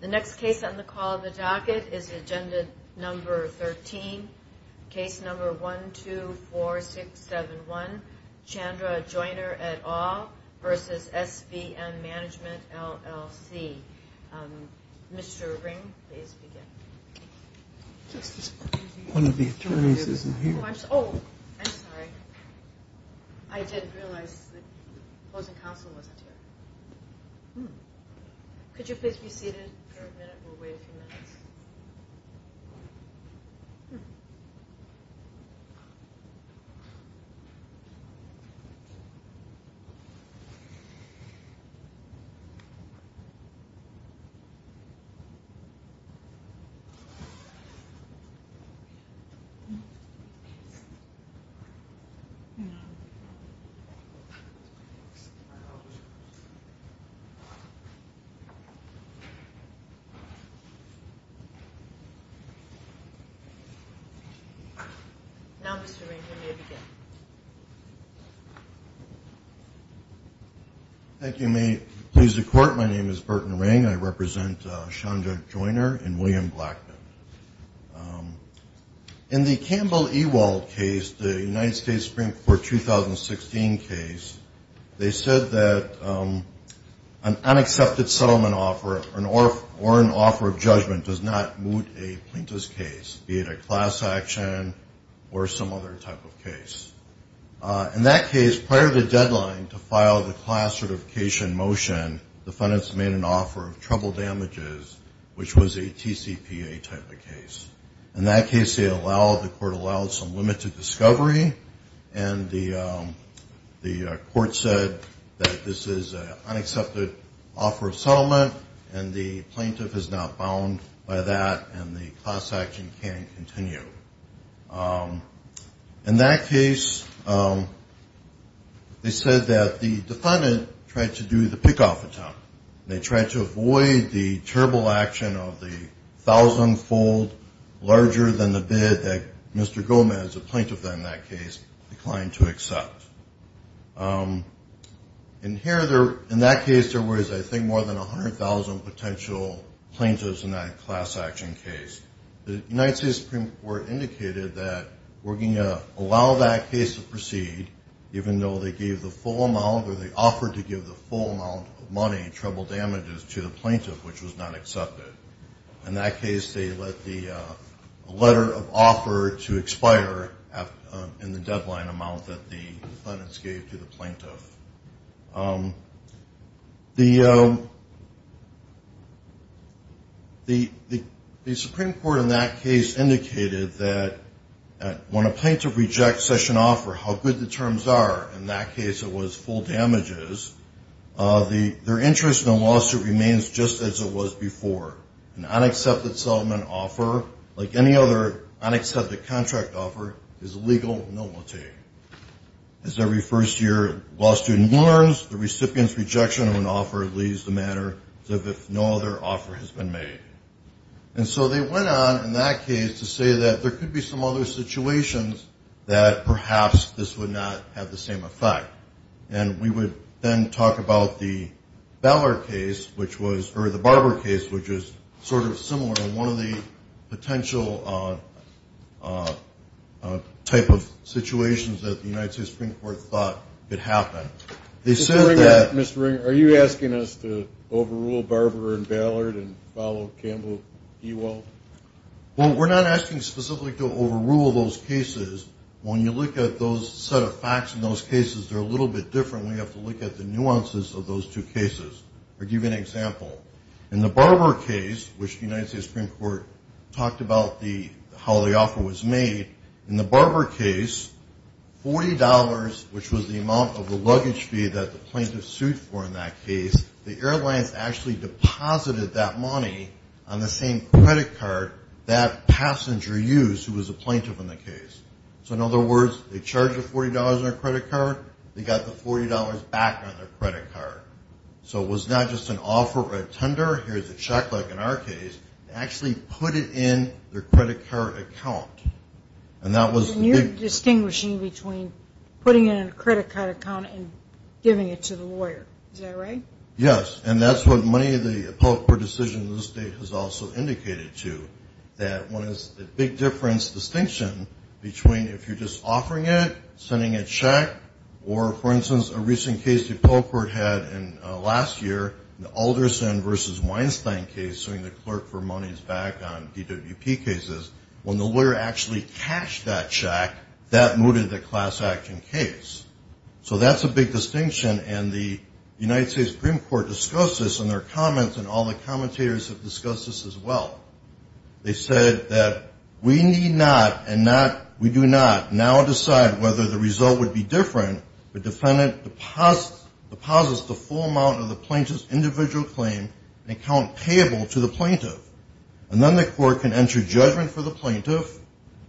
The next case on the call of the docket is agenda number 13. Case number 124671. Chandra Joiner et al. v. SVM Management, LLC. Mr. Ring, please begin. One of the attorneys isn't here. Oh, I'm sorry. I did realize the opposing counsel wasn't here. Could you please be seated for a minute? We'll wait a few minutes. Now, Mr. Ring, you may begin. Thank you. May it please the Court, my name is Burton Ring. I represent Chandra Joiner and William Blackman. In the Campbell-Ewald case, the United States Supreme Court 2016 case, they said that an unaccepted settlement offer or an offer of judgment does not moot a plaintiff's case, be it a class action or some other type of case. In that case, prior to the deadline to file the class certification motion, the defendants made an offer of trouble damages, which was a TCPA type of case. In that case, the Court allowed some limited discovery and the Court said that this is an unaccepted offer of settlement and the plaintiff is not bound by that and the class action can continue. In that case, they said that the defendant tried to do the pick-off attempt. They tried to avoid the terrible action of the thousand-fold larger-than-the-bid that Mr. Gomez, a plaintiff in that case, declined to accept. In that case, there was, I think, more than 100,000 potential plaintiffs in that class action case. The United States Supreme Court indicated that we're going to allow that case to proceed, even though they gave the full amount or they offered to give the full amount of money in trouble damages to the plaintiff, which was not accepted. In that case, they let the letter of offer to expire in the deadline amount that the defendants gave to the plaintiff. The Supreme Court in that case indicated that when a plaintiff rejects such an offer, how good the terms are, in that case it was full damages, their interest in the lawsuit remains just as it was before. An unaccepted settlement offer, like any other unaccepted contract offer, is legal normality. As every first year law student learns, the recipient's rejection of an offer leaves the matter as if no other offer has been made. And so they went on in that case to say that there could be some other situations that perhaps this would not have the same effect. And we would then talk about the Barber case, which is sort of similar to one of the potential type of situations that the United States Supreme Court thought could happen. Mr. Ringer, are you asking us to overrule Barber and Ballard and follow Campbell-Ewald? Well, we're not asking specifically to overrule those cases. When you look at those set of facts in those cases, they're a little bit different. We have to look at the nuances of those two cases. I'll give you an example. In the Barber case, which the United States Supreme Court talked about how the offer was made, in the Barber case, $40, which was the amount of the luggage fee that the plaintiff sued for in that case, the airlines actually deposited that money on the same credit card that passenger used who was the plaintiff in the case. So in other words, they charged $40 on their credit card. They got the $40 back on their credit card. So it was not just an offer or a tender. Here's a check like in our case. They actually put it in their credit card account. And that was the big... Yes, and that's what many of the appellate court decisions in this state has also indicated to, that one is the big difference distinction between if you're just offering it, sending a check, or, for instance, a recent case the appellate court had last year, the Alderson v. Weinstein case, suing the clerk for monies back on DWP cases. When the lawyer actually cashed that check, that mooted the class action case. So that's a big distinction, and the United States Supreme Court discussed this in their comments, and all the commentators have discussed this as well. They said that we need not and we do not now decide whether the result would be different if a defendant deposits the full amount of the plaintiff's individual claim in an account payable to the plaintiff. And then the court can enter judgment for the plaintiff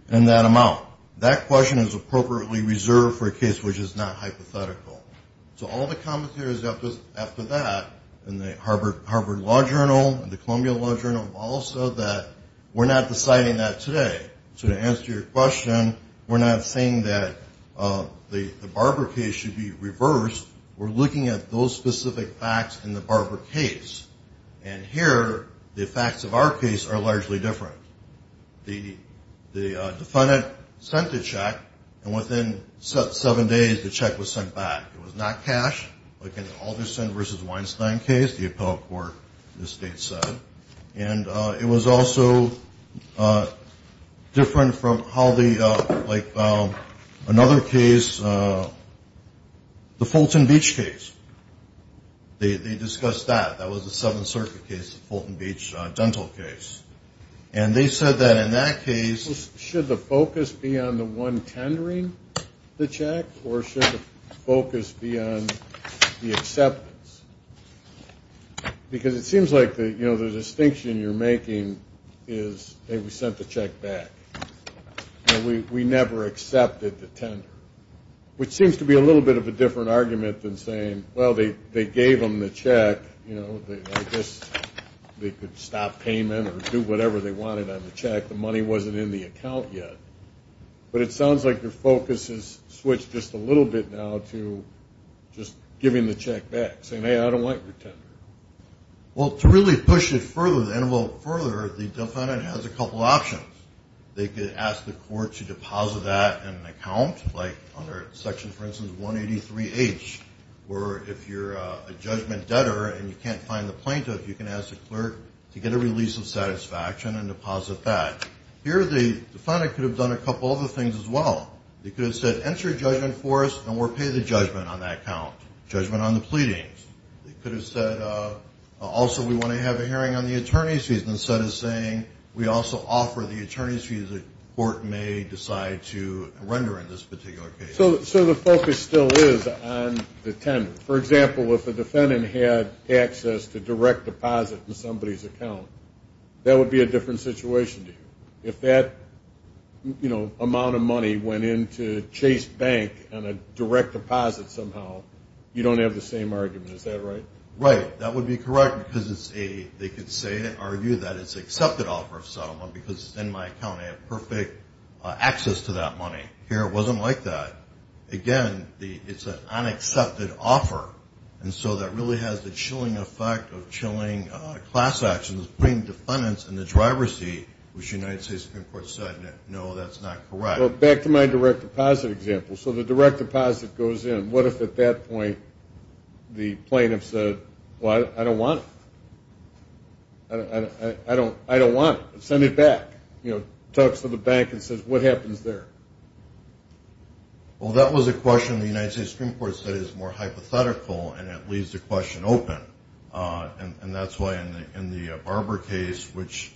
in that amount. That question is appropriately reserved for a case which is not hypothetical. So all the commentators after that in the Harvard Law Journal and the Columbia Law Journal all said that we're not deciding that today. So to answer your question, we're not saying that the Barber case should be reversed. We're looking at those specific facts in the Barber case. And here the facts of our case are largely different. The defendant sent the check, and within seven days the check was sent back. It was not cash, like in the Alderson v. Weinstein case, the appellate court, the state said. And it was also different from how the, like another case, the Fulton Beach case. They discussed that. That was the Seventh Circuit case, the Fulton Beach dental case. And they said that in that case should the focus be on the one tendering the check or should the focus be on the acceptance? Because it seems like, you know, the distinction you're making is, hey, we sent the check back. We never accepted the tender, which seems to be a little bit of a different argument than saying, well, they gave them the check. You know, I guess they could stop payment or do whatever they wanted on the check. The money wasn't in the account yet. But it sounds like your focus has switched just a little bit now to just giving the check back, saying, hey, I don't like your tender. Well, to really push it further, to envelope it further, the defendant has a couple options. They could ask the court to deposit that in an account, like under Section, for instance, 183H, where if you're a judgment debtor and you can't find the plaintiff, you can ask the clerk to get a release of satisfaction and deposit that. Here the defendant could have done a couple other things as well. They could have said, enter your judgment for us and we'll pay the judgment on that account, judgment on the pleadings. They could have said, also, we want to have a hearing on the attorney's fees, instead of saying we also offer the attorney's fees the court may decide to render in this particular case. So the focus still is on the tender. For example, if the defendant had access to direct deposit in somebody's account, that would be a different situation to you. If that amount of money went into Chase Bank on a direct deposit somehow, you don't have the same argument. Is that right? Right. That would be correct because they could argue that it's an accepted offer of settlement because it's in my account. I have perfect access to that money. Here it wasn't like that. Again, it's an unaccepted offer. And so that really has the chilling effect of chilling class actions, putting defendants in the driver's seat, which the United States Supreme Court said, no, that's not correct. Well, back to my direct deposit example. So the direct deposit goes in. What if at that point the plaintiff said, well, I don't want it. I don't want it. Send it back. Talks to the bank and says, what happens there? Well, that was a question the United States Supreme Court said is more hypothetical, and it leaves the question open. And that's why in the Barber case, which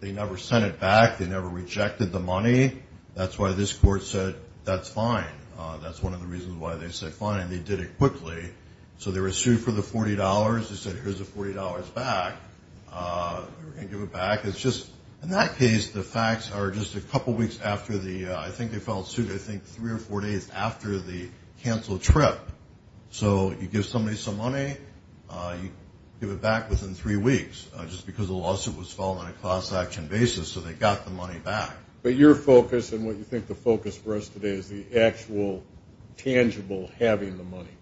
they never sent it back. They never rejected the money. That's why this court said that's fine. That's one of the reasons why they said fine, and they did it quickly. So they were sued for the $40. They said, here's the $40 back. We're going to give it back. It's just, in that case, the facts are just a couple weeks after the ‑‑ I think they filed suit, I think, three or four days after the canceled trip. So you give somebody some money, you give it back within three weeks, just because the lawsuit was filed on a class action basis, so they got the money back. But your focus and what you think the focus for us today is the actual, tangible having the money,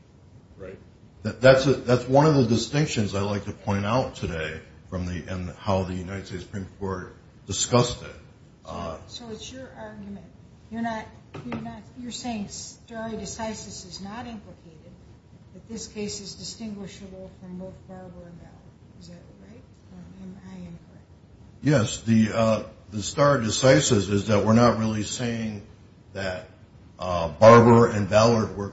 right? That's one of the distinctions I'd like to point out today in how the United States Supreme Court discussed it. So it's your argument. You're saying stare decisis is not implicated, but this case is distinguishable from both Barber and Ballard. Is that right? Or am I incorrect? Yes. The stare decisis is that we're not really saying that Barber and Ballard were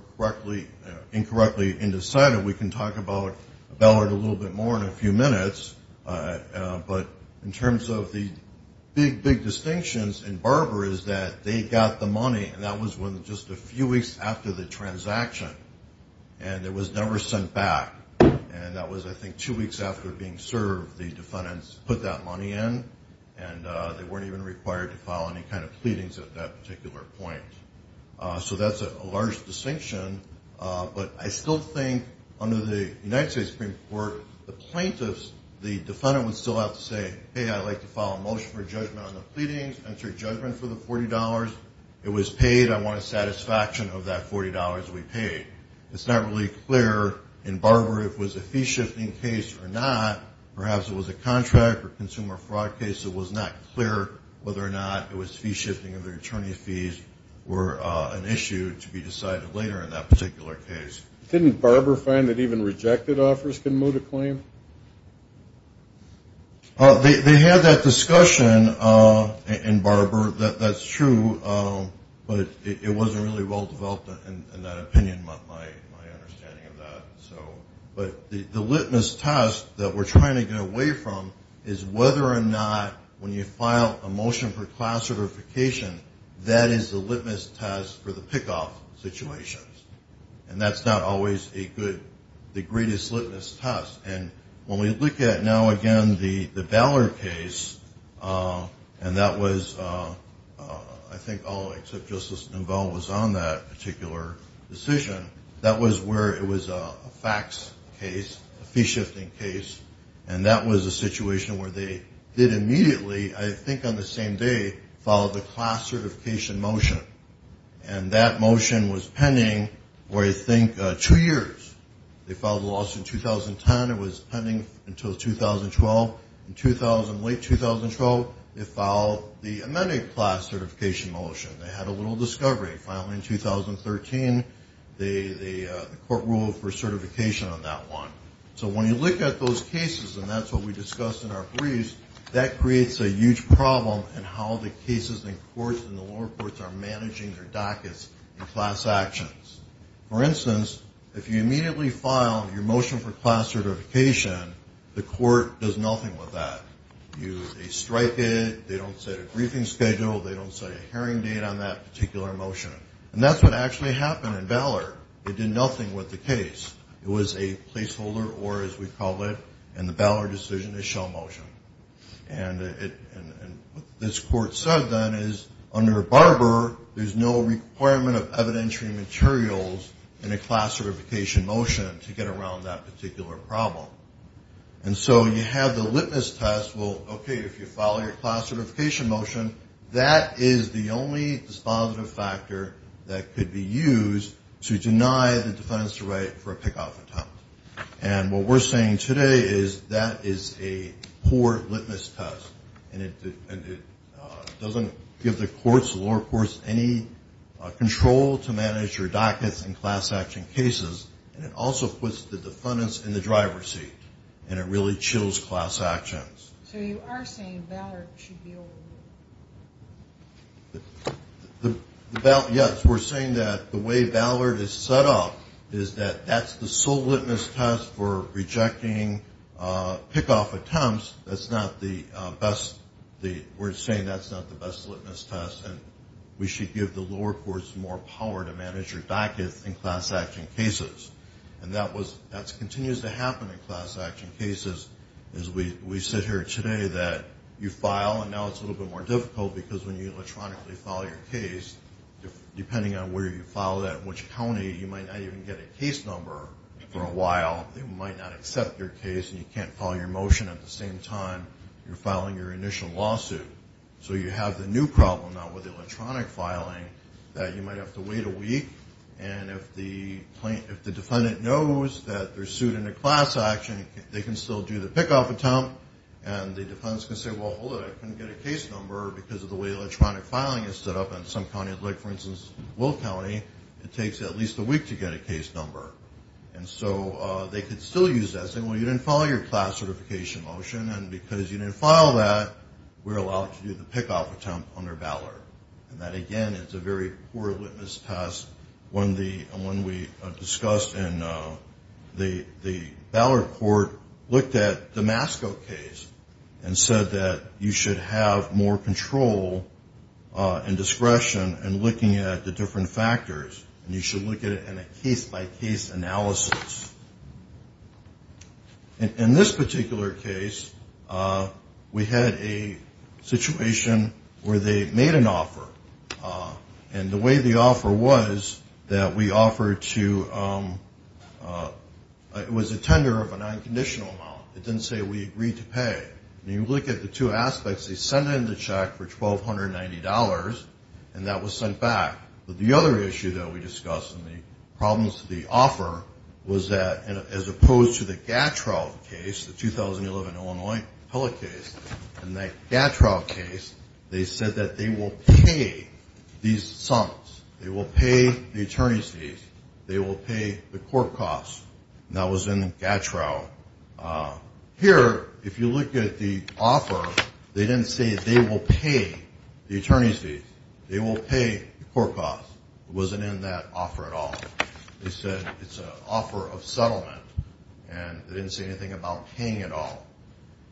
incorrectly indecided. We can talk about Ballard a little bit more in a few minutes. But in terms of the big, big distinctions in Barber is that they got the money, and that was just a few weeks after the transaction, and it was never sent back. And that was, I think, two weeks after being served, the defendants put that money in, and they weren't even required to file any kind of pleadings at that particular point. So that's a large distinction. But I still think under the United States Supreme Court, the plaintiffs, the defendant would still have to say, hey, I'd like to file a motion for judgment on the pleadings, enter judgment for the $40. It was paid. I want a satisfaction of that $40 we paid. It's not really clear in Barber if it was a fee-shifting case or not. Perhaps it was a contract or consumer fraud case. It was not clear whether or not it was fee-shifting or their attorney's fees were an issue to be decided later in that particular case. Didn't Barber find that even rejected offers can moot a claim? They had that discussion in Barber. That's true, but it wasn't really well-developed in that opinion, my understanding of that. But the litmus test that we're trying to get away from is whether or not when you file a motion for class certification, that is the litmus test for the pick-off situations. And that's not always the greatest litmus test. And when we look at now, again, the Ballard case, and that was I think all except Justice Nouveau was on that particular decision, that was where it was a fax case, a fee-shifting case, and that was a situation where they did immediately, I think on the same day, file the class certification motion. And that motion was pending for, I think, two years. They filed the lawsuit in 2010. It was pending until 2012. In late 2012, they filed the amended class certification motion. They had a little discovery. Finally, in 2013, the court ruled for certification on that one. So when you look at those cases, and that's what we discussed in our briefs, that creates a huge problem in how the cases in courts and the lower courts are managing their dockets in class actions. For instance, if you immediately file your motion for class certification, the court does nothing with that. They strike it. They don't set a briefing schedule. They don't set a hearing date on that particular motion. And that's what actually happened in Ballard. They did nothing with the case. It was a placeholder, or as we call it, in the Ballard decision, a show motion. And what this court said then is under Barber, there's no requirement of evidentiary materials in a class certification motion to get around that particular problem. And so you have the litmus test, well, okay, if you file your class certification motion, that is the only dispositive factor that could be used to deny the defendant's right for a pick-off attempt. And what we're saying today is that is a poor litmus test, and it doesn't give the courts, the lower courts, any control to manage your dockets in class action cases, and it also puts the defendants in the driver's seat, and it really chills class actions. So you are saying Ballard should be overruled? Yes, we're saying that the way Ballard is set up is that that's the sole litmus test for rejecting pick-off attempts. We're saying that's not the best litmus test, and we should give the lower courts more power to manage your dockets in class action cases. And that continues to happen in class action cases. We said here today that you file, and now it's a little bit more difficult, because when you electronically file your case, depending on where you file that, which county, you might not even get a case number for a while. They might not accept your case, and you can't file your motion at the same time you're filing your initial lawsuit. So you have the new problem now with electronic filing that you might have to wait a week, and if the defendant knows that they're sued in a class action, they can still do the pick-off attempt, and the defendants can say, well, hold it. I couldn't get a case number because of the way electronic filing is set up in some county. Like, for instance, Will County, it takes at least a week to get a case number. And so they could still use that, say, well, you didn't file your class certification motion, and because you didn't file that, we're allowed to do the pick-off attempt under Ballard. And that, again, is a very poor litmus test. One we discussed in the Ballard court looked at the Damasco case and said that you should have more control and discretion in looking at the different factors, and you should look at it in a case-by-case analysis. In this particular case, we had a situation where they made an offer, and the way the offer was that we offered to ‑‑ it was a tender of an unconditional amount. It didn't say we agreed to pay. When you look at the two aspects, they sent in the check for $1,290, and that was sent back. But the other issue that we discussed in the problems to the offer was that, as opposed to the Gatrell case, the 2011 Illinois appellate case, in the Gatrell case, they said that they will pay these sums. They will pay the attorney's fees. They will pay the court costs, and that was in Gatrell. Here, if you look at the offer, they didn't say they will pay the attorney's fees. They will pay the court costs. It wasn't in that offer at all. They said it's an offer of settlement, and they didn't say anything about paying at all.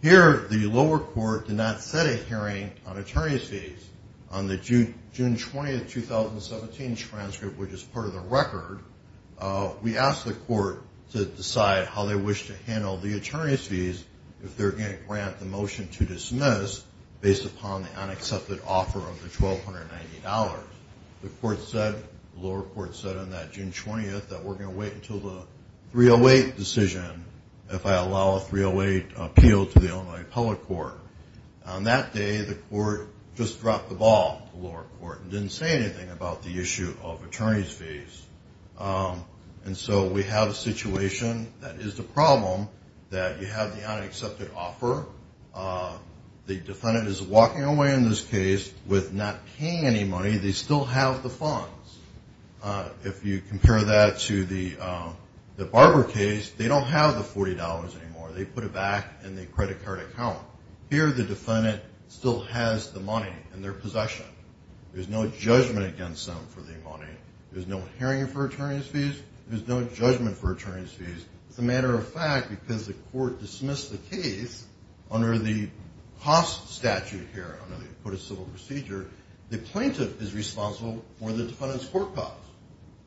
Here, the lower court did not set a hearing on attorney's fees. On the June 20, 2017 transcript, which is part of the record, we asked the court to decide how they wish to handle the attorney's fees if they're going to grant the motion to dismiss based upon the unaccepted offer of the $1,290. The lower court said on that June 20 that we're going to wait until the 308 decision if I allow a 308 appeal to the Illinois appellate court. On that day, the court just dropped the ball to the lower court and didn't say anything about the issue of attorney's fees. And so we have a situation that is the problem that you have the unaccepted offer. The defendant is walking away in this case with not paying any money. They still have the funds. If you compare that to the Barber case, they don't have the $40 anymore. They put it back in the credit card account. Here, the defendant still has the money in their possession. There's no judgment against them for the money. There's no hearing for attorney's fees. There's no judgment for attorney's fees. As a matter of fact, because the court dismissed the case under the cost statute here, under the Acquitted Civil Procedure, the plaintiff is responsible for the defendant's court costs.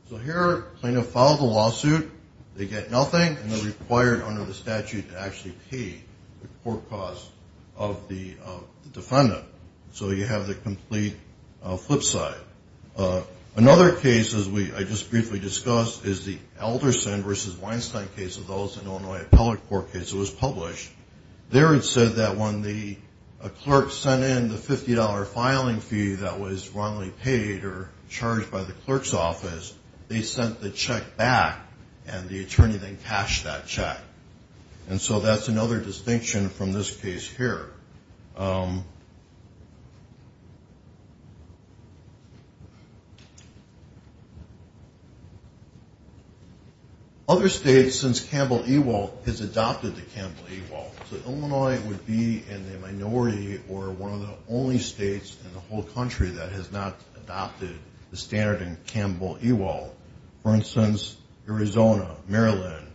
So here, the plaintiff filed the lawsuit. They get nothing, and they're required under the statute to actually pay the court costs of the defendant. So you have the complete flip side. Another case, as I just briefly discussed, is the Elderson v. Weinstein case of those in the Illinois Appellate Court case. It was published. There it said that when a clerk sent in the $50 filing fee that was wrongly paid or charged by the clerk's office, they sent the check back, and the attorney then cashed that check. And so that's another distinction from this case here. Other states, since Campbell-Ewald has adopted the Campbell-Ewald, so Illinois would be in the minority or one of the only states in the whole country that has not adopted the standard in Campbell-Ewald. For instance, Arizona, Maryland,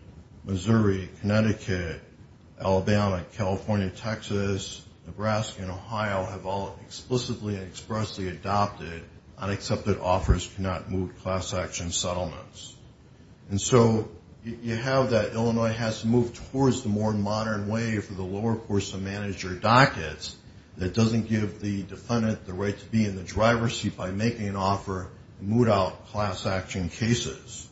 Missouri, Connecticut, Alabama, California, Texas, Nebraska, and Ohio have all explicitly and expressly adopted unaccepted offers to not moot class-action settlements. And so you have that Illinois has to move towards the more modern way for the lower course of manager dockets that doesn't give the defendant the right to be in the driver's seat by making an offer to moot out class-action cases.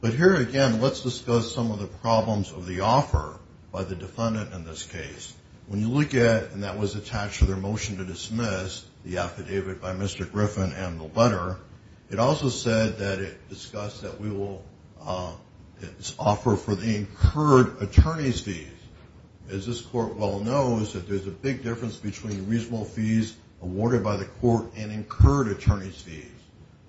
But here, again, let's discuss some of the problems of the offer by the defendant in this case. When you look at, and that was attached to their motion to dismiss the affidavit by Mr. Griffin and the letter, it also said that it discussed that we will offer for the incurred attorney's fees. As this court well knows, there's a big difference between reasonable fees awarded by the court and incurred attorney's fees.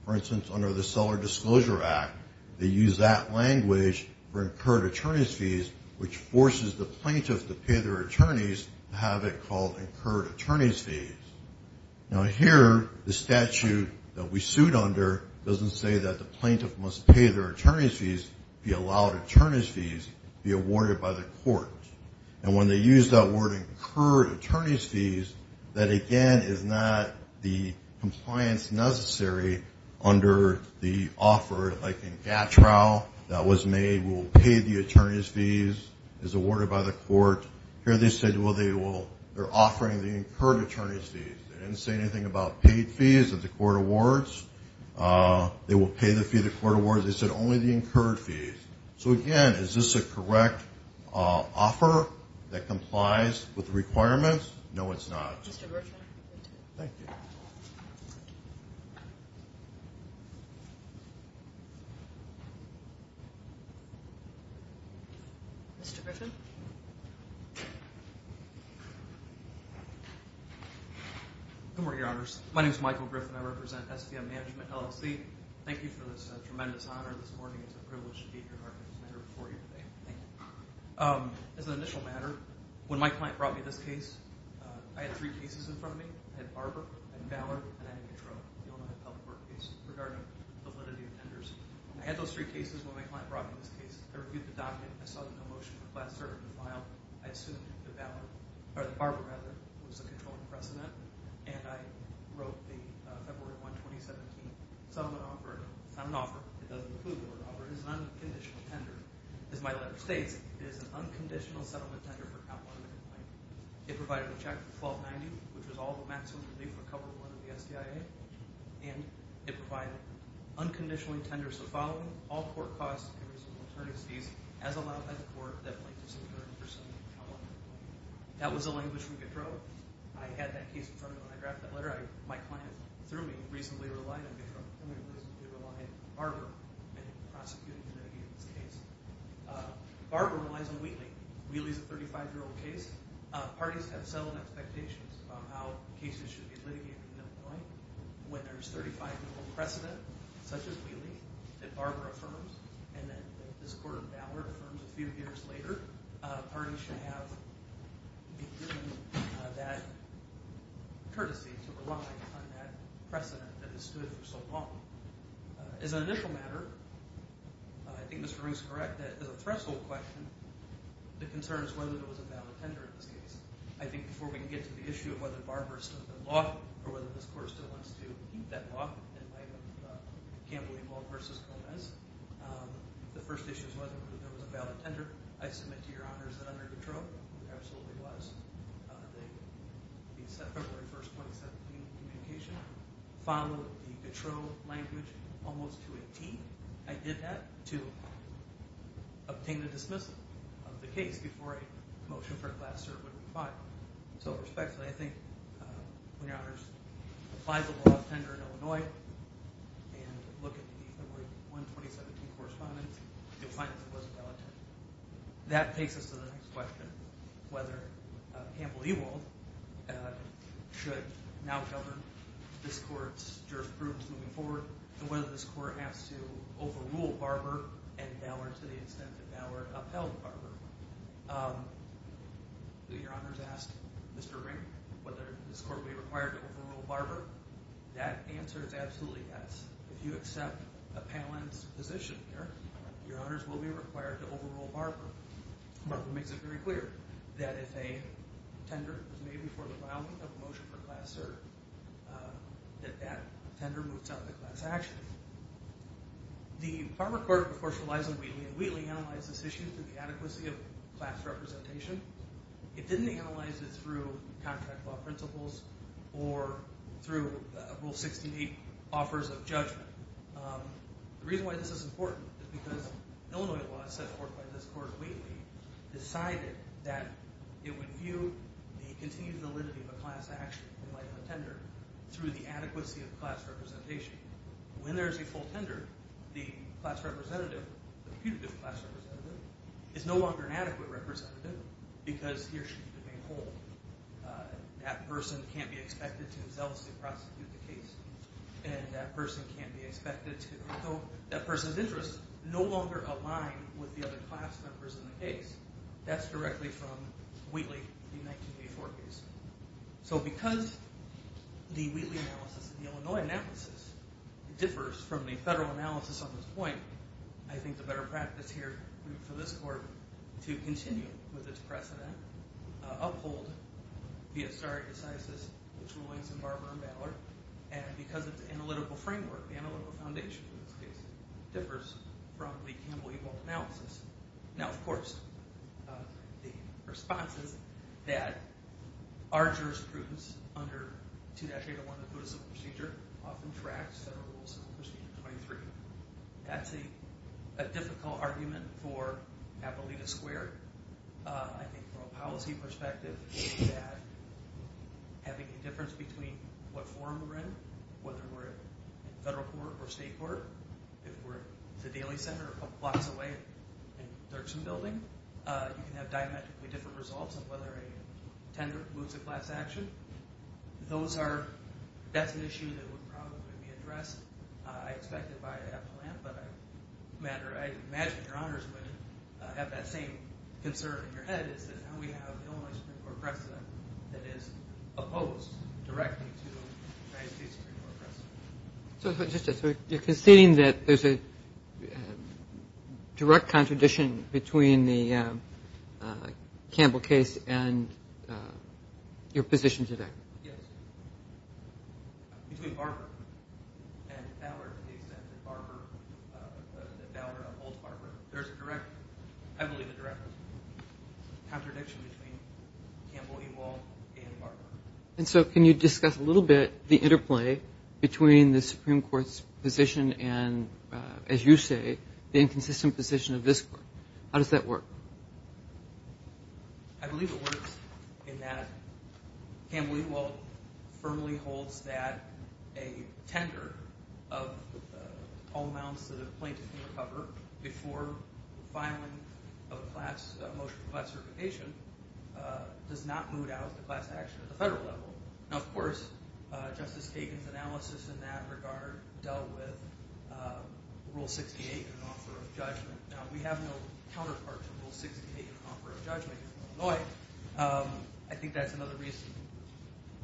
For instance, under the Seller Disclosure Act, they use that language for incurred attorney's fees, which forces the plaintiff to pay their attorneys to have it called incurred attorney's fees. Now, here, the statute that we sued under doesn't say that the plaintiff must pay their attorney's fees, be allowed attorney's fees, be awarded by the court. And when they use that word incurred attorney's fees, that, again, is not the compliance necessary under the offer. Like in Gatrell, that was made, we will pay the attorney's fees, is awarded by the court. Here they said, well, they're offering the incurred attorney's fees. They didn't say anything about paid fees of the court awards. They will pay the fee of the court awards. They said only the incurred fees. So, again, is this a correct offer that complies with the requirements? No, it's not. Mr. Griffin. Thank you. Mr. Griffin. Good morning, Your Honors. My name is Michael Griffin. I represent SVM Management, LLC. Thank you for this tremendous honor this morning. It's a privilege to be here in this matter before you today. Thank you. As an initial matter, when my client brought me this case, I had three cases in front of me. I had Barber, I had Ballard, and I had Gatrell. You all know I have a public work case regarding validity of tenders. I had those three cases when my client brought me this case. I reviewed the document. I saw it in the motion. The class certificate was filed. I assumed that the Barber was the controlling precedent. And I wrote the February 1, 2017 settlement offer. It's not an offer. It doesn't include the word offer. It's an unconditional tender. As my letter states, it is an unconditional settlement tender for Comp 1. It provided a check for 1290, which was all the maximum relief for Comp 1 of the SDIA. And it provided unconditionally tenders the following. All court costs and reasonable attorneys fees, as allowed by the court, definitely disappear in the pursuit of Comp 1. That was the language from Gatrell. I had that case in front of me when I drafted that letter. My client, through me, reasonably relied on Gatrell. He relied on Barber in prosecuting and litigating this case. Barber relies on Wheatley. Wheatley is a 35-year-old case. Parties have settled expectations about how cases should be litigated from that point. When there's a 35-year-old precedent, such as Wheatley, that Barber affirms, and then this Court of Ballard affirms a few years later, parties should have that courtesy to rely on that precedent that has stood for so long. As an initial matter, I think Mr. Rowe is correct that as a threshold question, the concern is whether there was a valid tender in this case. I think before we can get to the issue of whether Barber is still in the loft, or whether this Court still wants to keep that loft in light of Campbell v. Gomez, the first issue is whether there was a valid tender. I submit to your honors that under Gatrell, there absolutely was. The February 1, 2017, communication followed the Gatrell language almost to a T. I did that to obtain the dismissal of the case before a motion for a class cert would be filed. So, respectfully, I think when your honors apply the loft tender in Illinois and look at the February 1, 2017 correspondence, you'll find that there was a valid tender. That takes us to the next question, whether Campbell Ewald should now govern this Court's jurisprudence moving forward, and whether this Court has to overrule Barber and Ballard to the extent that Ballard upheld Barber. Your honors asked Mr. Ring whether this Court would be required to overrule Barber. That answer is absolutely yes. If you accept Appellant's position here, your honors will be required to overrule Barber. Barber makes it very clear that if a tender was made before the filing of a motion for a class cert, that that tender moves out of the class action. The Barber Court, of course, relies on Wheatley, and Wheatley analyzed this issue through the adequacy of class representation. It didn't analyze it through contract law principles or through Rule 68 offers of judgment. The reason why this is important is because Illinois law, as set forth by this Court in Wheatley, decided that it would view the continued validity of a class action in light of a tender through the adequacy of class representation. When there is a full tender, the class representative, the putative class representative, is no longer an adequate representative because he or she can be held. That person can't be expected to self-prosecute the case, and that person's interests no longer align with the other class members in the case. That's directly from Wheatley, the 1984 case. So because the Wheatley analysis and the Illinois analysis differs from the federal analysis on this point, I think the better practice here for this Court to continue with its precedent, uphold the historic decisis between Williamson, Barber, and Ballard, and because of the analytical framework, the analytical foundation of this case, differs from the Campbell-Ebolt analysis. Now, of course, the responses that our jurisprudence under 2-801, the Putative Civil Procedure, often tracks federal rules under 2-823. That's a difficult argument for Appalachia Square. I think from a policy perspective, having a difference between what forum we're in, whether we're in federal court or state court, if we're at the Daly Center a couple blocks away in Thurston Building, you can have diametrically different results on whether a tender moves a class action. That's an issue that would probably be addressed. I expect it by Appalachia, but I imagine your honors would have that same concern in your head, is that now we have the Illinois Supreme Court precedent that is opposed directly to the United States Supreme Court precedent. So you're conceding that there's a direct contradiction between the Campbell case and your position today? Yes. Between Barber and Ballard, to the extent that Ballard upholds Barber, there's a direct, I believe a direct contradiction between Campbell-Ebolt and Barber. And so can you discuss a little bit the interplay between the Supreme Court's position and, as you say, the inconsistent position of this court? How does that work? I believe it works in that Campbell-Ebolt firmly holds that a tender of all amounts to the plaintiffs before filing a motion for class certification does not move out the class action at the federal level. Now, of course, Justice Kagan's analysis in that regard dealt with Rule 68 and an offer of judgment. Now, we have no counterpart to Rule 68 in an offer of judgment in Illinois. I think that's another reason,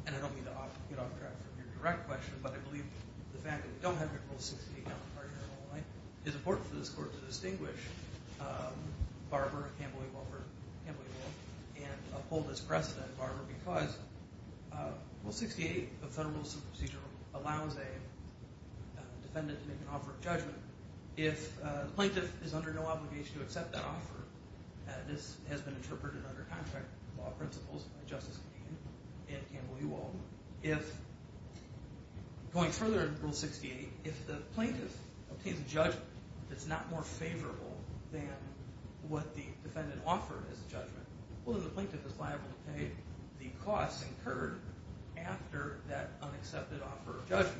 and I don't mean to get off track from your direct question, but I believe the fact that we don't have a rule 68 counterpart here in Illinois is important for this court to distinguish Barber, Campbell-Ebolt, and uphold this precedent in Barber because Rule 68 of federal procedure allows a defendant to make an offer of judgment. If the plaintiff is under no obligation to accept that offer, this has been interpreted under contract law principles by Justice Kagan and Campbell-Ebolt. So going further in Rule 68, if the plaintiff obtains a judgment that's not more favorable than what the defendant offered as a judgment, well, then the plaintiff is liable to pay the costs incurred after that unaccepted offer of judgment.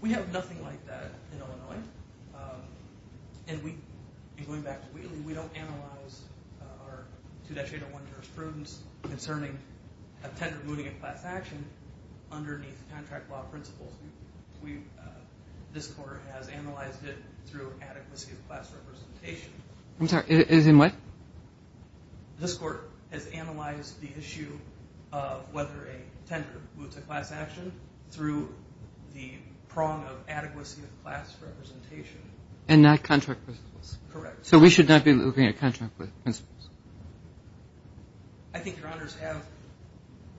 We have nothing like that in Illinois, and going back to Wheatley, we don't analyze our 2-1-1 jurisprudence concerning a tender moving a class action underneath contract law principles. This Court has analyzed it through adequacy of class representation. I'm sorry, as in what? This Court has analyzed the issue of whether a tender moves a class action through the prong of adequacy of class representation. And not contract principles. Correct. So we should not be moving a contract with principles. I think Your Honors have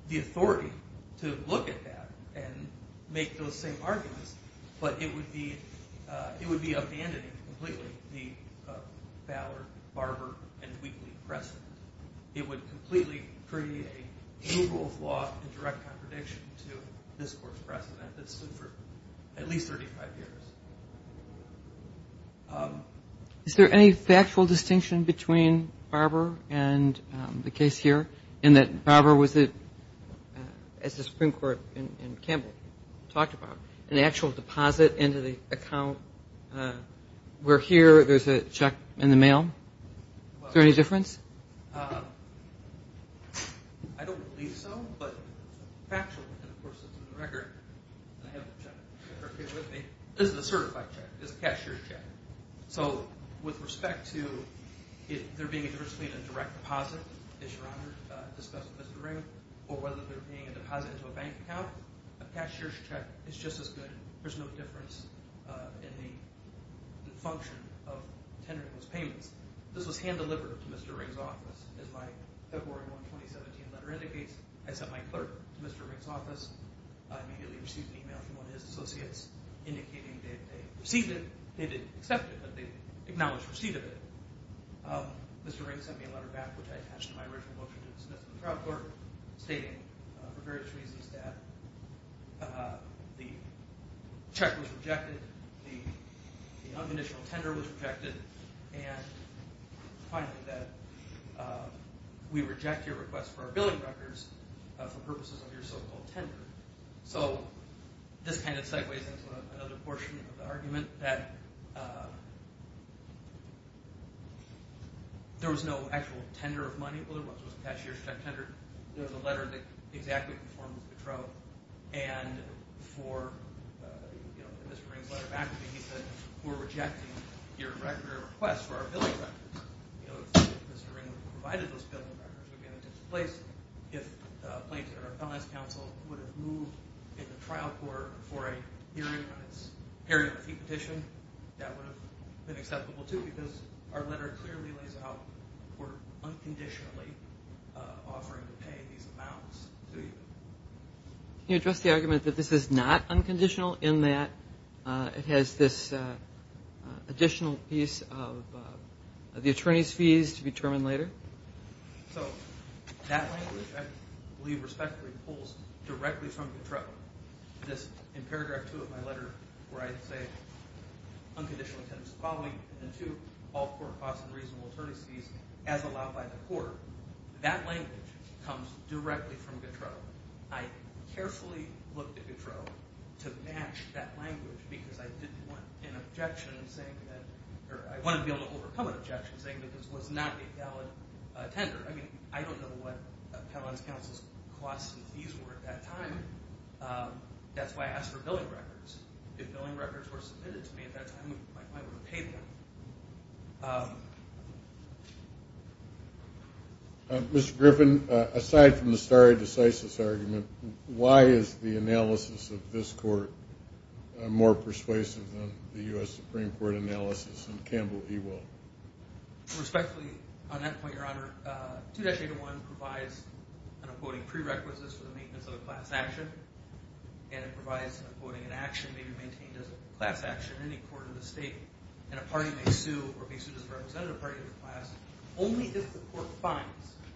the authority to look at that and make those same arguments, but it would be abandoning completely the Ballard, Barber, and Wheatley precedent. It would completely create a rule of law and direct contradiction to this Court's precedent that stood for at least 35 years. Is there any factual distinction between Barber and the case here in that Barber was, as the Supreme Court in Campbell talked about, an actual deposit into the account, where here there's a check in the mail? Is there any difference? I don't believe so, but factually, of course, it's in the record. I have the check with me. This is a certified check. It's a cashier's check. So with respect to there being a direct deposit, as Your Honor discussed with Mr. Ring, or whether there being a deposit into a bank account, a cashier's check is just as good. There's no difference in the function of tendering those payments. This was hand-delivered to Mr. Ring's office. As my February 1, 2017 letter indicates, I sent my clerk to Mr. Ring's office. I immediately received an email from one of his associates indicating they received it. They didn't accept it, but they acknowledged received it. Mr. Ring sent me a letter back, which I attached to my original book, which I did submit to the trial court, stating for various reasons that the check was rejected, the unconditional tender was rejected, and finally that we reject your request for our billing records for purposes of your so-called tender. So this kind of sideways into another portion of the argument that there was no actual tender of money. Well, there was a cashier's check tender. There was a letter that exactly conformed with the trial. And for Mr. Ring's letter back, he said we're rejecting your request for our billing records. If Mr. Ring had provided those billing records, we would have been in a different place. If plaintiff or appellant's counsel would have moved in the trial court for a hearing on the fee petition, that would have been acceptable, too, because our letter clearly lays out we're unconditionally offering to pay these amounts to you. Can you address the argument that this is not unconditional, in that it has this additional piece of the attorney's fees to be determined later? So that language, I believe respectfully, pulls directly from the trial. In paragraph 2 of my letter where I say unconditional tenders following the two all-court costs and reasonable attorney's fees as allowed by the court, that language comes directly from Gautreau. I carefully looked at Gautreau to match that language because I didn't want an objection saying that – or I wanted to be able to overcome an objection saying that this was not a valid tender. I mean, I don't know what appellant's counsel's costs and fees were at that time. That's why I asked for billing records. If billing records were submitted to me at that time, I might want to pay them. Mr. Griffin, aside from the stare decisis argument, why is the analysis of this court more persuasive than the U.S. Supreme Court analysis in Campbell v. Will? Respectfully, on that point, Your Honor, 2-801 provides an, I'm quoting, class action in any court of the state. And a party may sue or be sued as a representative party of the class only if the court finds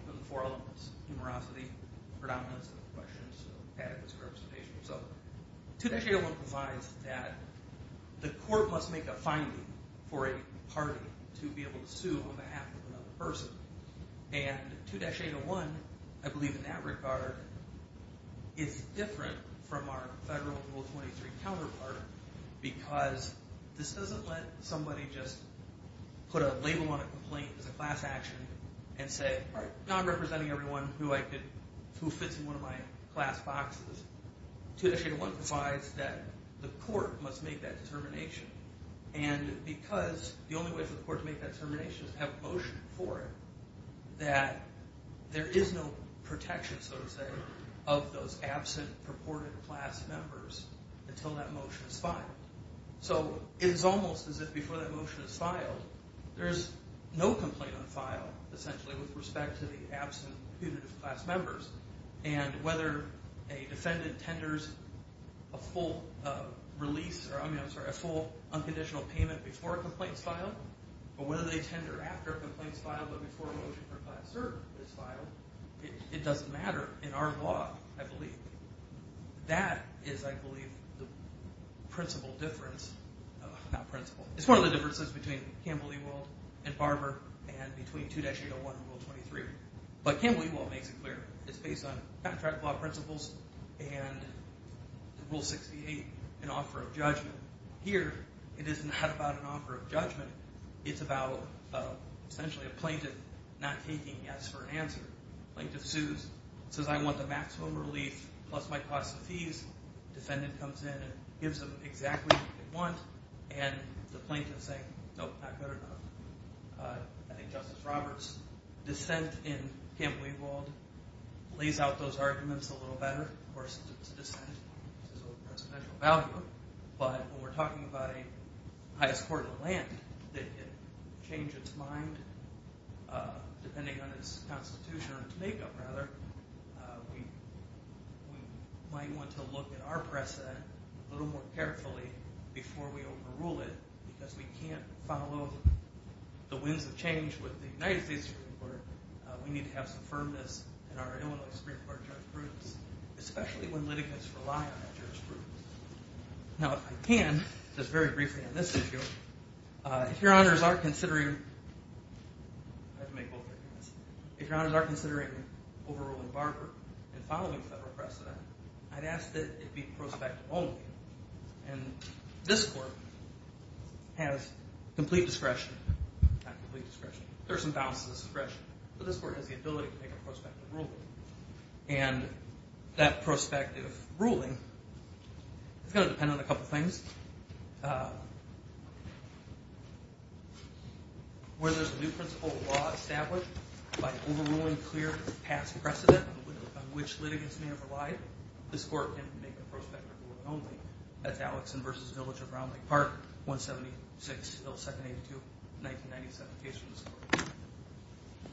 within the four elements, numerosity, predominance of questions, and adequate representation. So 2-801 provides that the court must make a finding for a party to be able to sue on behalf of another person. And 2-801, I believe in that regard, is different from our federal Rule 23 counterpart because this doesn't let somebody just put a label on a complaint as a class action and say, all right, now I'm representing everyone who fits in one of my class boxes. 2-801 provides that the court must make that determination. And because the only way for the court to make that determination is to have a motion for it, that there is no protection, so to say, of those absent purported class members until that motion is filed. So it is almost as if before that motion is filed, there is no complaint on file, essentially, with respect to the absent punitive class members. And whether a defendant tenders a full unconditional payment before a complaint is filed or whether they tender after a complaint is filed but before a motion for a class cert is filed, it doesn't matter in our law, I believe. That is, I believe, the principal difference. It's one of the differences between Campbell-Ewald and Barber and between 2-801 and Rule 23. But Campbell-Ewald makes it clear. It's based on contract law principles and Rule 68, an offer of judgment. Here, it is not about an offer of judgment. It's about essentially a plaintiff not taking yes for an answer. Plaintiff sues, says, I want the maximum relief plus my cost of fees. Defendant comes in and gives them exactly what they want. And the plaintiff is saying, nope, not good enough. I think Justice Roberts' dissent in Campbell-Ewald lays out those arguments a little better. Of course, it's a dissent. It's his own presidential value. But when we're talking about a highest court of the land, did it change its mind depending on its constitution or its makeup, rather? We might want to look at our precedent a little more carefully before we overrule it because we can't follow the winds of change with the United States Supreme Court. We need to have some firmness in our Illinois Supreme Court jurisprudence, especially when litigants rely on that jurisprudence. Now, if I can, just very briefly on this issue, if Your Honors are considering overruling Barber and following federal precedent, I'd ask that it be prospective only. And this court has complete discretion. Not complete discretion. There are some balances of discretion. But this court has the ability to make a prospective ruling. And that prospective ruling is going to depend on a couple things. Where there's a new principle of law established by overruling clear past precedent on which litigants may have relied, this court can make a prospective ruling only. That's Alexson v. Village of Brown Lake Park, 176-782, 1997 case from this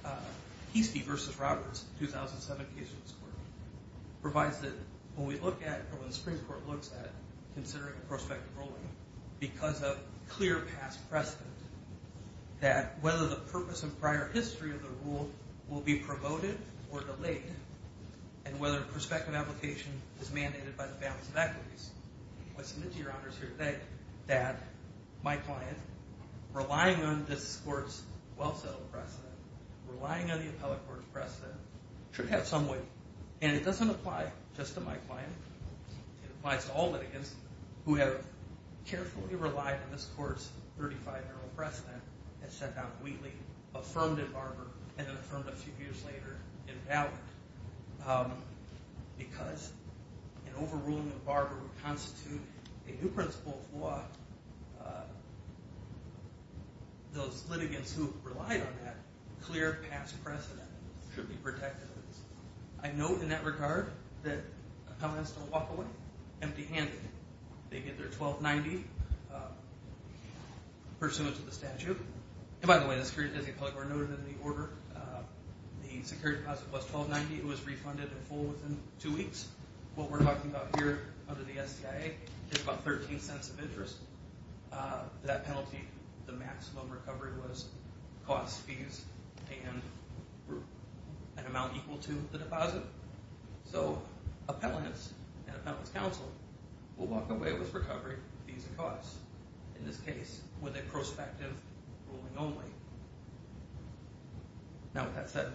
court. Heastie v. Roberts, 2007 case from this court, provides that when we look at or when the Supreme Court looks at considering a prospective ruling because of clear past precedent, that whether the purpose and prior history of the rule will be promoted or delayed, and whether a prospective application is mandated by the balance of equities, I submit to Your Honors here today that my client, relying on this court's well-settled precedent, relying on the appellate court's precedent, should have some weight. And it doesn't apply just to my client. It applies to all litigants who have carefully relied on this court's 35-year-old precedent and sent down Wheatley, affirmed in Barber, and then affirmed a few years later in Ballard. Because an overruling of Barber would constitute a new principle for those litigants who relied on that clear past precedent should be protected. I note in that regard that appellants don't walk away empty-handed. They get their 1290 pursuant to the statute. And by the way, the Securities and Deposits were noted in the order. The security deposit was 1290. It was refunded in full within two weeks. What we're talking about here under the SCIA is about 13 cents of interest. That penalty, the maximum recovery was cost, fees, and an amount equal to the deposit. So appellants and appellant's counsel will walk away with recovery, fees, and costs. In this case, with a prospective ruling only. Now with that said,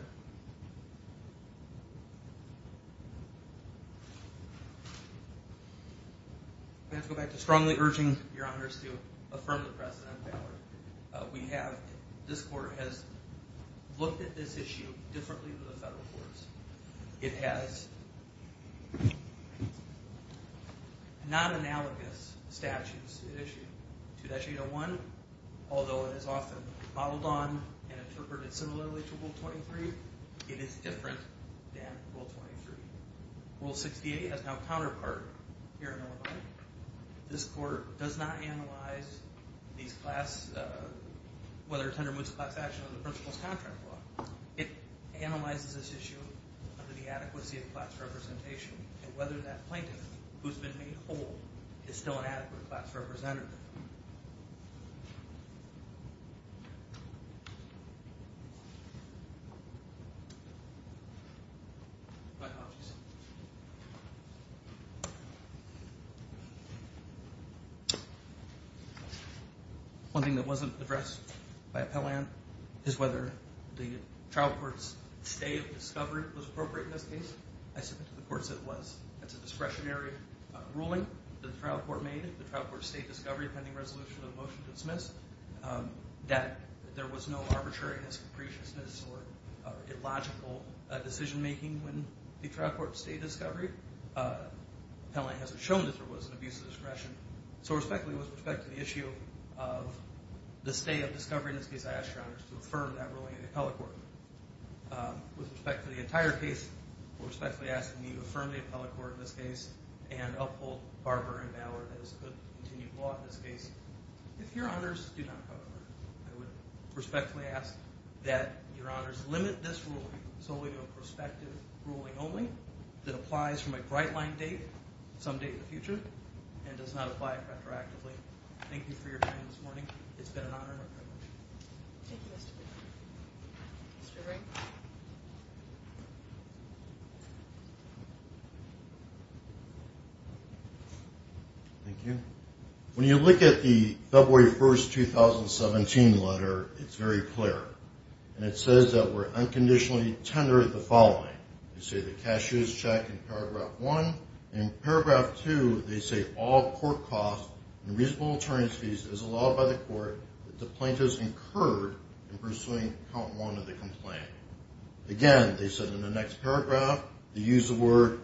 I have to go back to strongly urging your honors to affirm the precedent in Ballard. We have, this court has looked at this issue differently than the federal courts. It has non-analogous statutes issued. 2-801, although it is often modeled on and interpreted similarly to Rule 23, it is different than Rule 23. Rule 68 has no counterpart here in Illinois. This court does not analyze these class, whether it's under Mutz's class action or the principal's contract law. It analyzes this issue under the adequacy of class representation, and whether that plaintiff, who's been made whole, is still an adequate class representative. One thing that wasn't addressed by appellant is whether the trial court's stay of discovery was appropriate in this case. I submit to the courts that it was. That's a discretionary ruling that the trial court made. The trial court stayed discovery pending resolution of the motion to dismiss. That there was no arbitrariness, capriciousness, or illogical decision making when the trial court stayed discovery. Appellant hasn't shown that there was an abuse of discretion. So respectfully, with respect to the issue of the stay of discovery in this case, I ask your honors to affirm that ruling in the appellate court. With respect to the entire case, we respectfully ask that you affirm the appellate court in this case and uphold Barber and Bauer as good continued law in this case. If your honors do not come forward, I would respectfully ask that your honors limit this ruling solely to a prospective ruling only that applies from a bright line date, some date in the future, and does not apply retroactively. Thank you for your time this morning. It's been an honor and a privilege. Thank you, Mr. Brink. Mr. Brink. Thank you. When you look at the February 1st, 2017 letter, it's very clear. And it says that we're unconditionally tender the following. We say the cash is checked in paragraph one. In paragraph two, they say all court costs and reasonable attorneys fees is allowed by the court that the plaintiff's incurred in pursuing count one of the complaint. Again, they said in the next paragraph, they use the word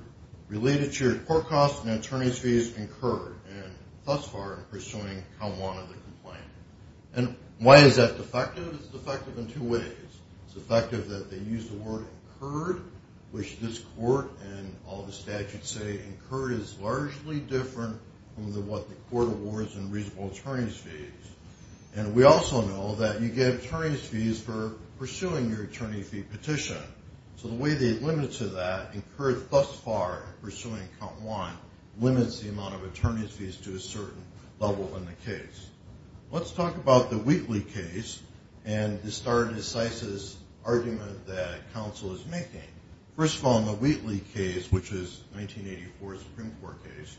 related to your court costs and attorneys fees incurred and thus far in pursuing count one of the complaint. And why is that defective? It's defective in two ways. It's effective that they use the word incurred, which this court and all the statutes say incurred is largely different from what the court awards in reasonable attorneys fees. And we also know that you get attorneys fees for pursuing your attorney fee petition. So the way they limit to that, incurred thus far in pursuing count one, limits the amount of attorneys fees to a certain level in the case. Let's talk about the Wheatley case and the stare decisis argument that counsel is making. First of all, in the Wheatley case, which is 1984 Supreme Court case,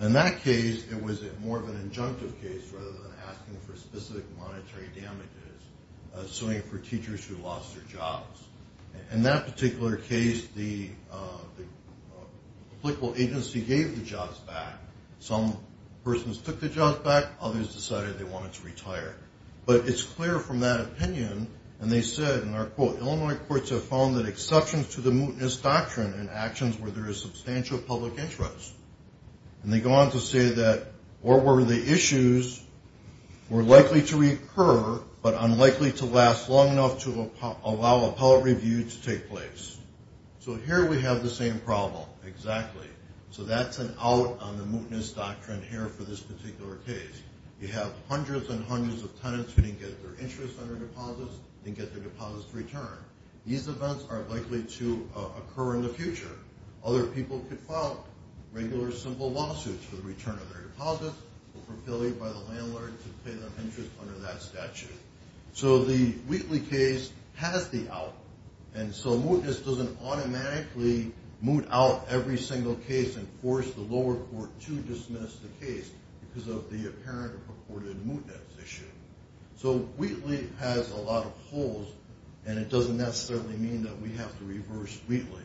in that case it was more of an injunctive case rather than asking for specific monetary damages, suing for teachers who lost their jobs. In that particular case, the applicable agency gave the jobs back. Some persons took the jobs back. Others decided they wanted to retire. But it's clear from that opinion, and they said, and I'll quote, Illinois courts have found that exceptions to the mootness doctrine in actions where there is substantial public interest. And they go on to say that, or where the issues were likely to recur but unlikely to last long enough to allow appellate review to take place. So here we have the same problem. Exactly. So that's an out on the mootness doctrine here for this particular case. You have hundreds and hundreds of tenants who didn't get their interest on their deposits, didn't get their deposits returned. These events are likely to occur in the future. Other people could file regular simple lawsuits for the return of their deposits, fulfilled by the landlord to pay their interest under that statute. So the Wheatley case has the out, and so mootness doesn't automatically moot out every single case and force the lower court to dismiss the case because of the apparent or purported mootness issue. So Wheatley has a lot of holes, and it doesn't necessarily mean that we have to reverse Wheatley.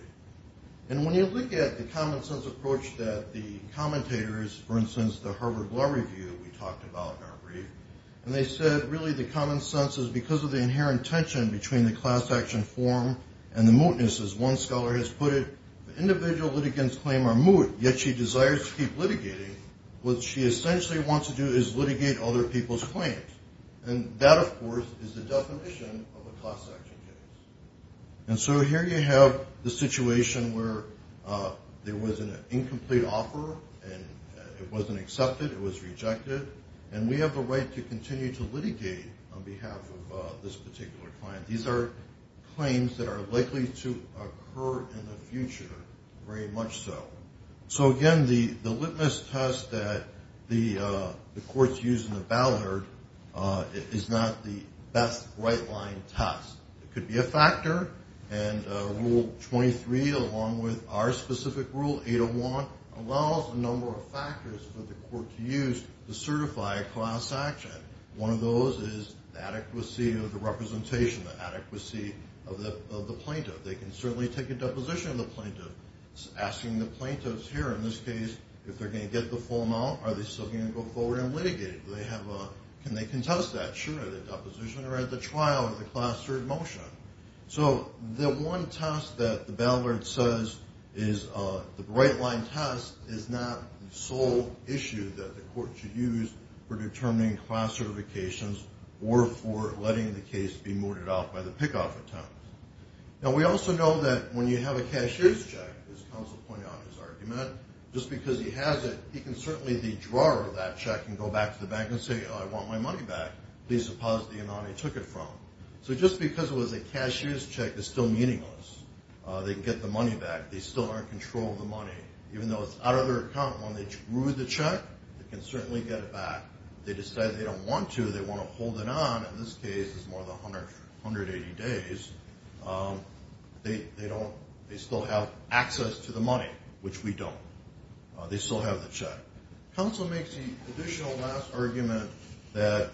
And when you look at the common-sense approach that the commentators, for instance, the Harvard Law Review, we talked about in our brief, and they said really the common sense is because of the inherent tension between the class action form and the mootness, as one scholar has put it, individual litigants' claims are moot, yet she desires to keep litigating. What she essentially wants to do is litigate other people's claims. And that, of course, is the definition of a class action case. And so here you have the situation where there was an incomplete offer, and it wasn't accepted, it was rejected, and we have the right to continue to litigate on behalf of this particular client. These are claims that are likely to occur in the future, very much so. So, again, the litmus test that the courts use in the Ballard is not the best right-line test. It could be a factor, and Rule 23, along with our specific rule, 801, allows a number of factors for the court to use to certify a class action. One of those is the adequacy of the representation, the adequacy of the plaintiff. They can certainly take a deposition of the plaintiff, asking the plaintiffs here, in this case, if they're going to get the full amount, are they still going to go forward and litigate? Can they contest that? Sure. Are they at the deposition or at the trial of the class third motion? So the one test that the Ballard says is the right-line test is not the sole issue that the court should use for determining class certifications or for letting the case be mooted off by the pick-off attempt. Now, we also know that when you have a cash-use check, as counsel pointed out in his argument, just because he has it, he can certainly withdraw that check and go back to the bank and say, I want my money back. Please deposit the amount I took it from. So just because it was a cash-use check is still meaningless. They can get the money back. They still are in control of the money. Even though it's out of their account, when they drew the check, they can certainly get it back. If they decide they don't want to, they want to hold it on, in this case, it's more than 180 days, they still have access to the money, which we don't. They still have the check. Counsel makes the additional last argument that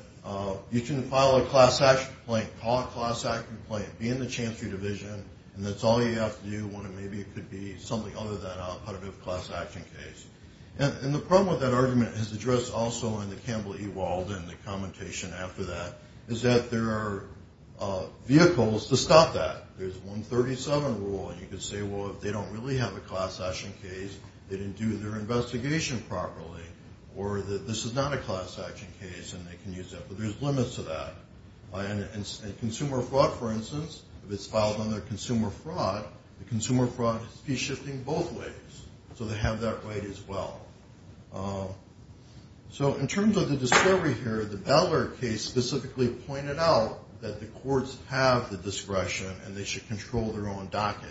you can file a class action complaint, call a class action complaint, be in the Chancery Division, and that's all you have to do when maybe it could be something other than a punitive class action case. And the problem with that argument, as addressed also in the Campbell-Ewald and the commentation after that, is that there are vehicles to stop that. There's 137 rule, and you could say, well, if they don't really have a class action case, they didn't do their investigation properly, or this is not a class action case, and they can use that, but there's limits to that. Consumer fraud, for instance, if it's filed under consumer fraud, the consumer fraud is fee-shifting both ways, so they have that right as well. So in terms of the discovery here, the Butler case specifically pointed out that the courts have the discretion and they should control their own docket.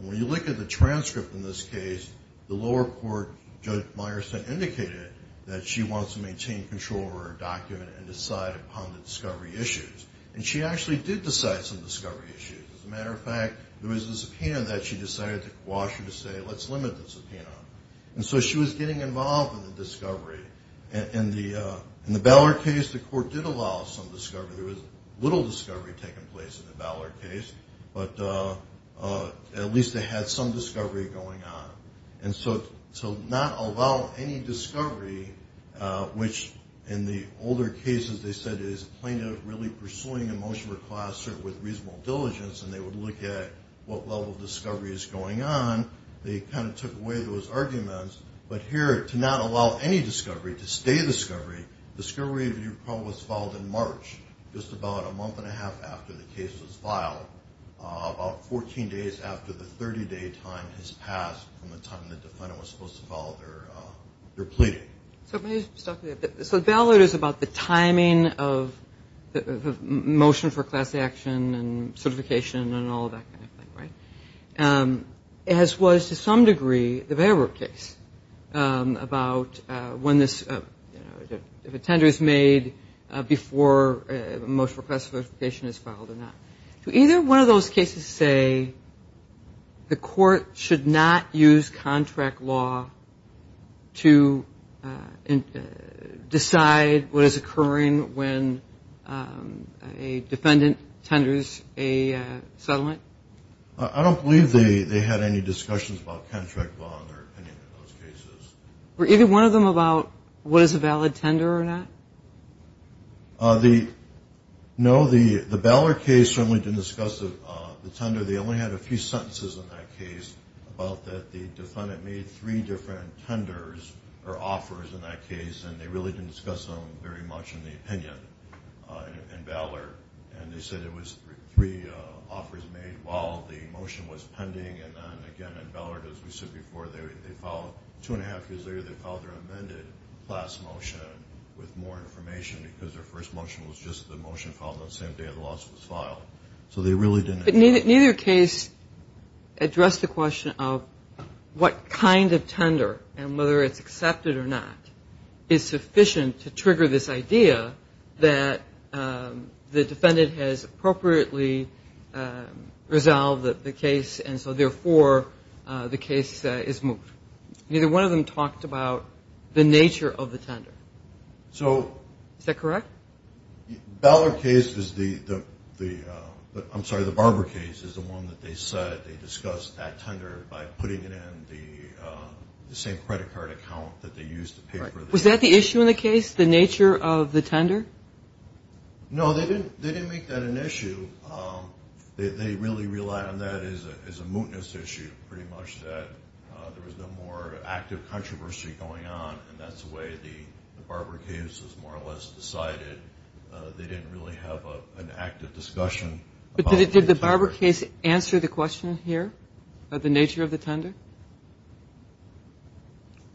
When you look at the transcript in this case, the lower court, Judge Meyerson, indicated that she wants to maintain control over her document and decide upon the discovery issues, and she actually did decide some discovery issues. As a matter of fact, there was a subpoena that she decided to quash and to say, let's limit the subpoena. And so she was getting involved in the discovery. In the Butler case, the court did allow some discovery. There was little discovery taking place in the Butler case, but at least they had some discovery going on. And so to not allow any discovery, which in the older cases they said is plaintiff really pursuing a motion request with reasonable diligence, and they would look at what level of discovery is going on, they kind of took away those arguments. But here, to not allow any discovery, to stay discovery, discovery was filed in March, just about a month and a half after the case was filed, about 14 days after the 30-day time has passed from the time the defendant was supposed to follow their pleading. So the bail order is about the timing of the motion for class action and certification and all of that kind of thing, right? As was, to some degree, the Bayward case about when this, if a tender is made before a motion for classification is filed or not. Do either one of those cases say the court should not use contract law to decide what is occurring when a defendant tenders a settlement? I don't believe they had any discussions about contract law in their opinion in those cases. Were either one of them about what is a valid tender or not? No, the Ballard case certainly didn't discuss the tender. They only had a few sentences in that case about that the defendant made three different tenders or offers in that case, and they really didn't discuss them very much in the opinion in Ballard. And they said it was three offers made while the motion was pending, and then again in Ballard, as we said before, two and a half years later, they filed their amended class motion with more information because their first motion was just the motion filed on the same day the lawsuit was filed. So they really didn't. But neither case addressed the question of what kind of tender and whether it's accepted or not is sufficient to trigger this idea that the defendant has appropriately resolved the case, and so, therefore, the case is moved. Neither one of them talked about the nature of the tender. Is that correct? The Ballard case is the one that they said they discussed that tender by putting it in the same credit card account that they used to pay for the case. Was that the issue in the case, the nature of the tender? No, they didn't make that an issue. They really relied on that as a mootness issue, pretty much that there was no more active controversy going on, and that's the way the Barber case was more or less decided. They didn't really have an active discussion. But did the Barber case answer the question here of the nature of the tender?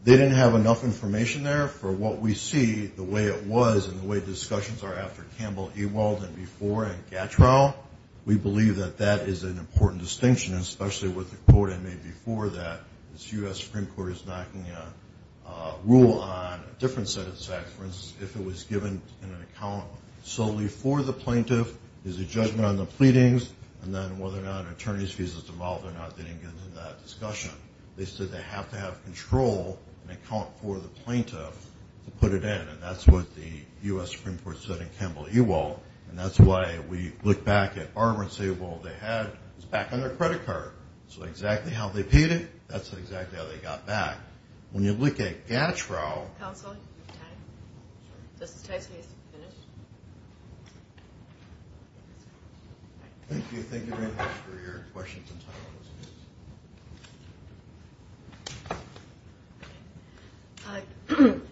They didn't have enough information there for what we see, the way it was and the way discussions are after Campbell, Ewald, and before, and Gatrell. We believe that that is an important distinction, especially with the quote I made before that this U.S. Supreme Court is knocking a rule on a different set of statutes. For instance, if it was given in an account solely for the plaintiff, there's a judgment on the pleadings, and then whether or not an attorney's visa is devolved or not, they didn't get into that discussion. They said they have to have control in account for the plaintiff to put it in, and that's what the U.S. Supreme Court said in Campbell, Ewald, and that's why we look back at Barber and say, well, they had it back on their credit card. So exactly how they paid it, that's exactly how they got back. When you look at Gatrell... Counsel, do you have time? Justice Tyson has to finish. Thank you. Thank you very much for your questions and time.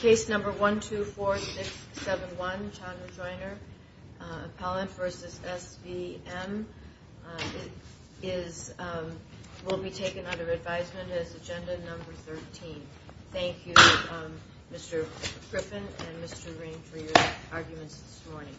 Case number 124671, John Rejoiner, Appellant v. S.V.M. will be taken under advisement as agenda number 13. Thank you, Mr. Griffin and Mr. Green, for your arguments this morning.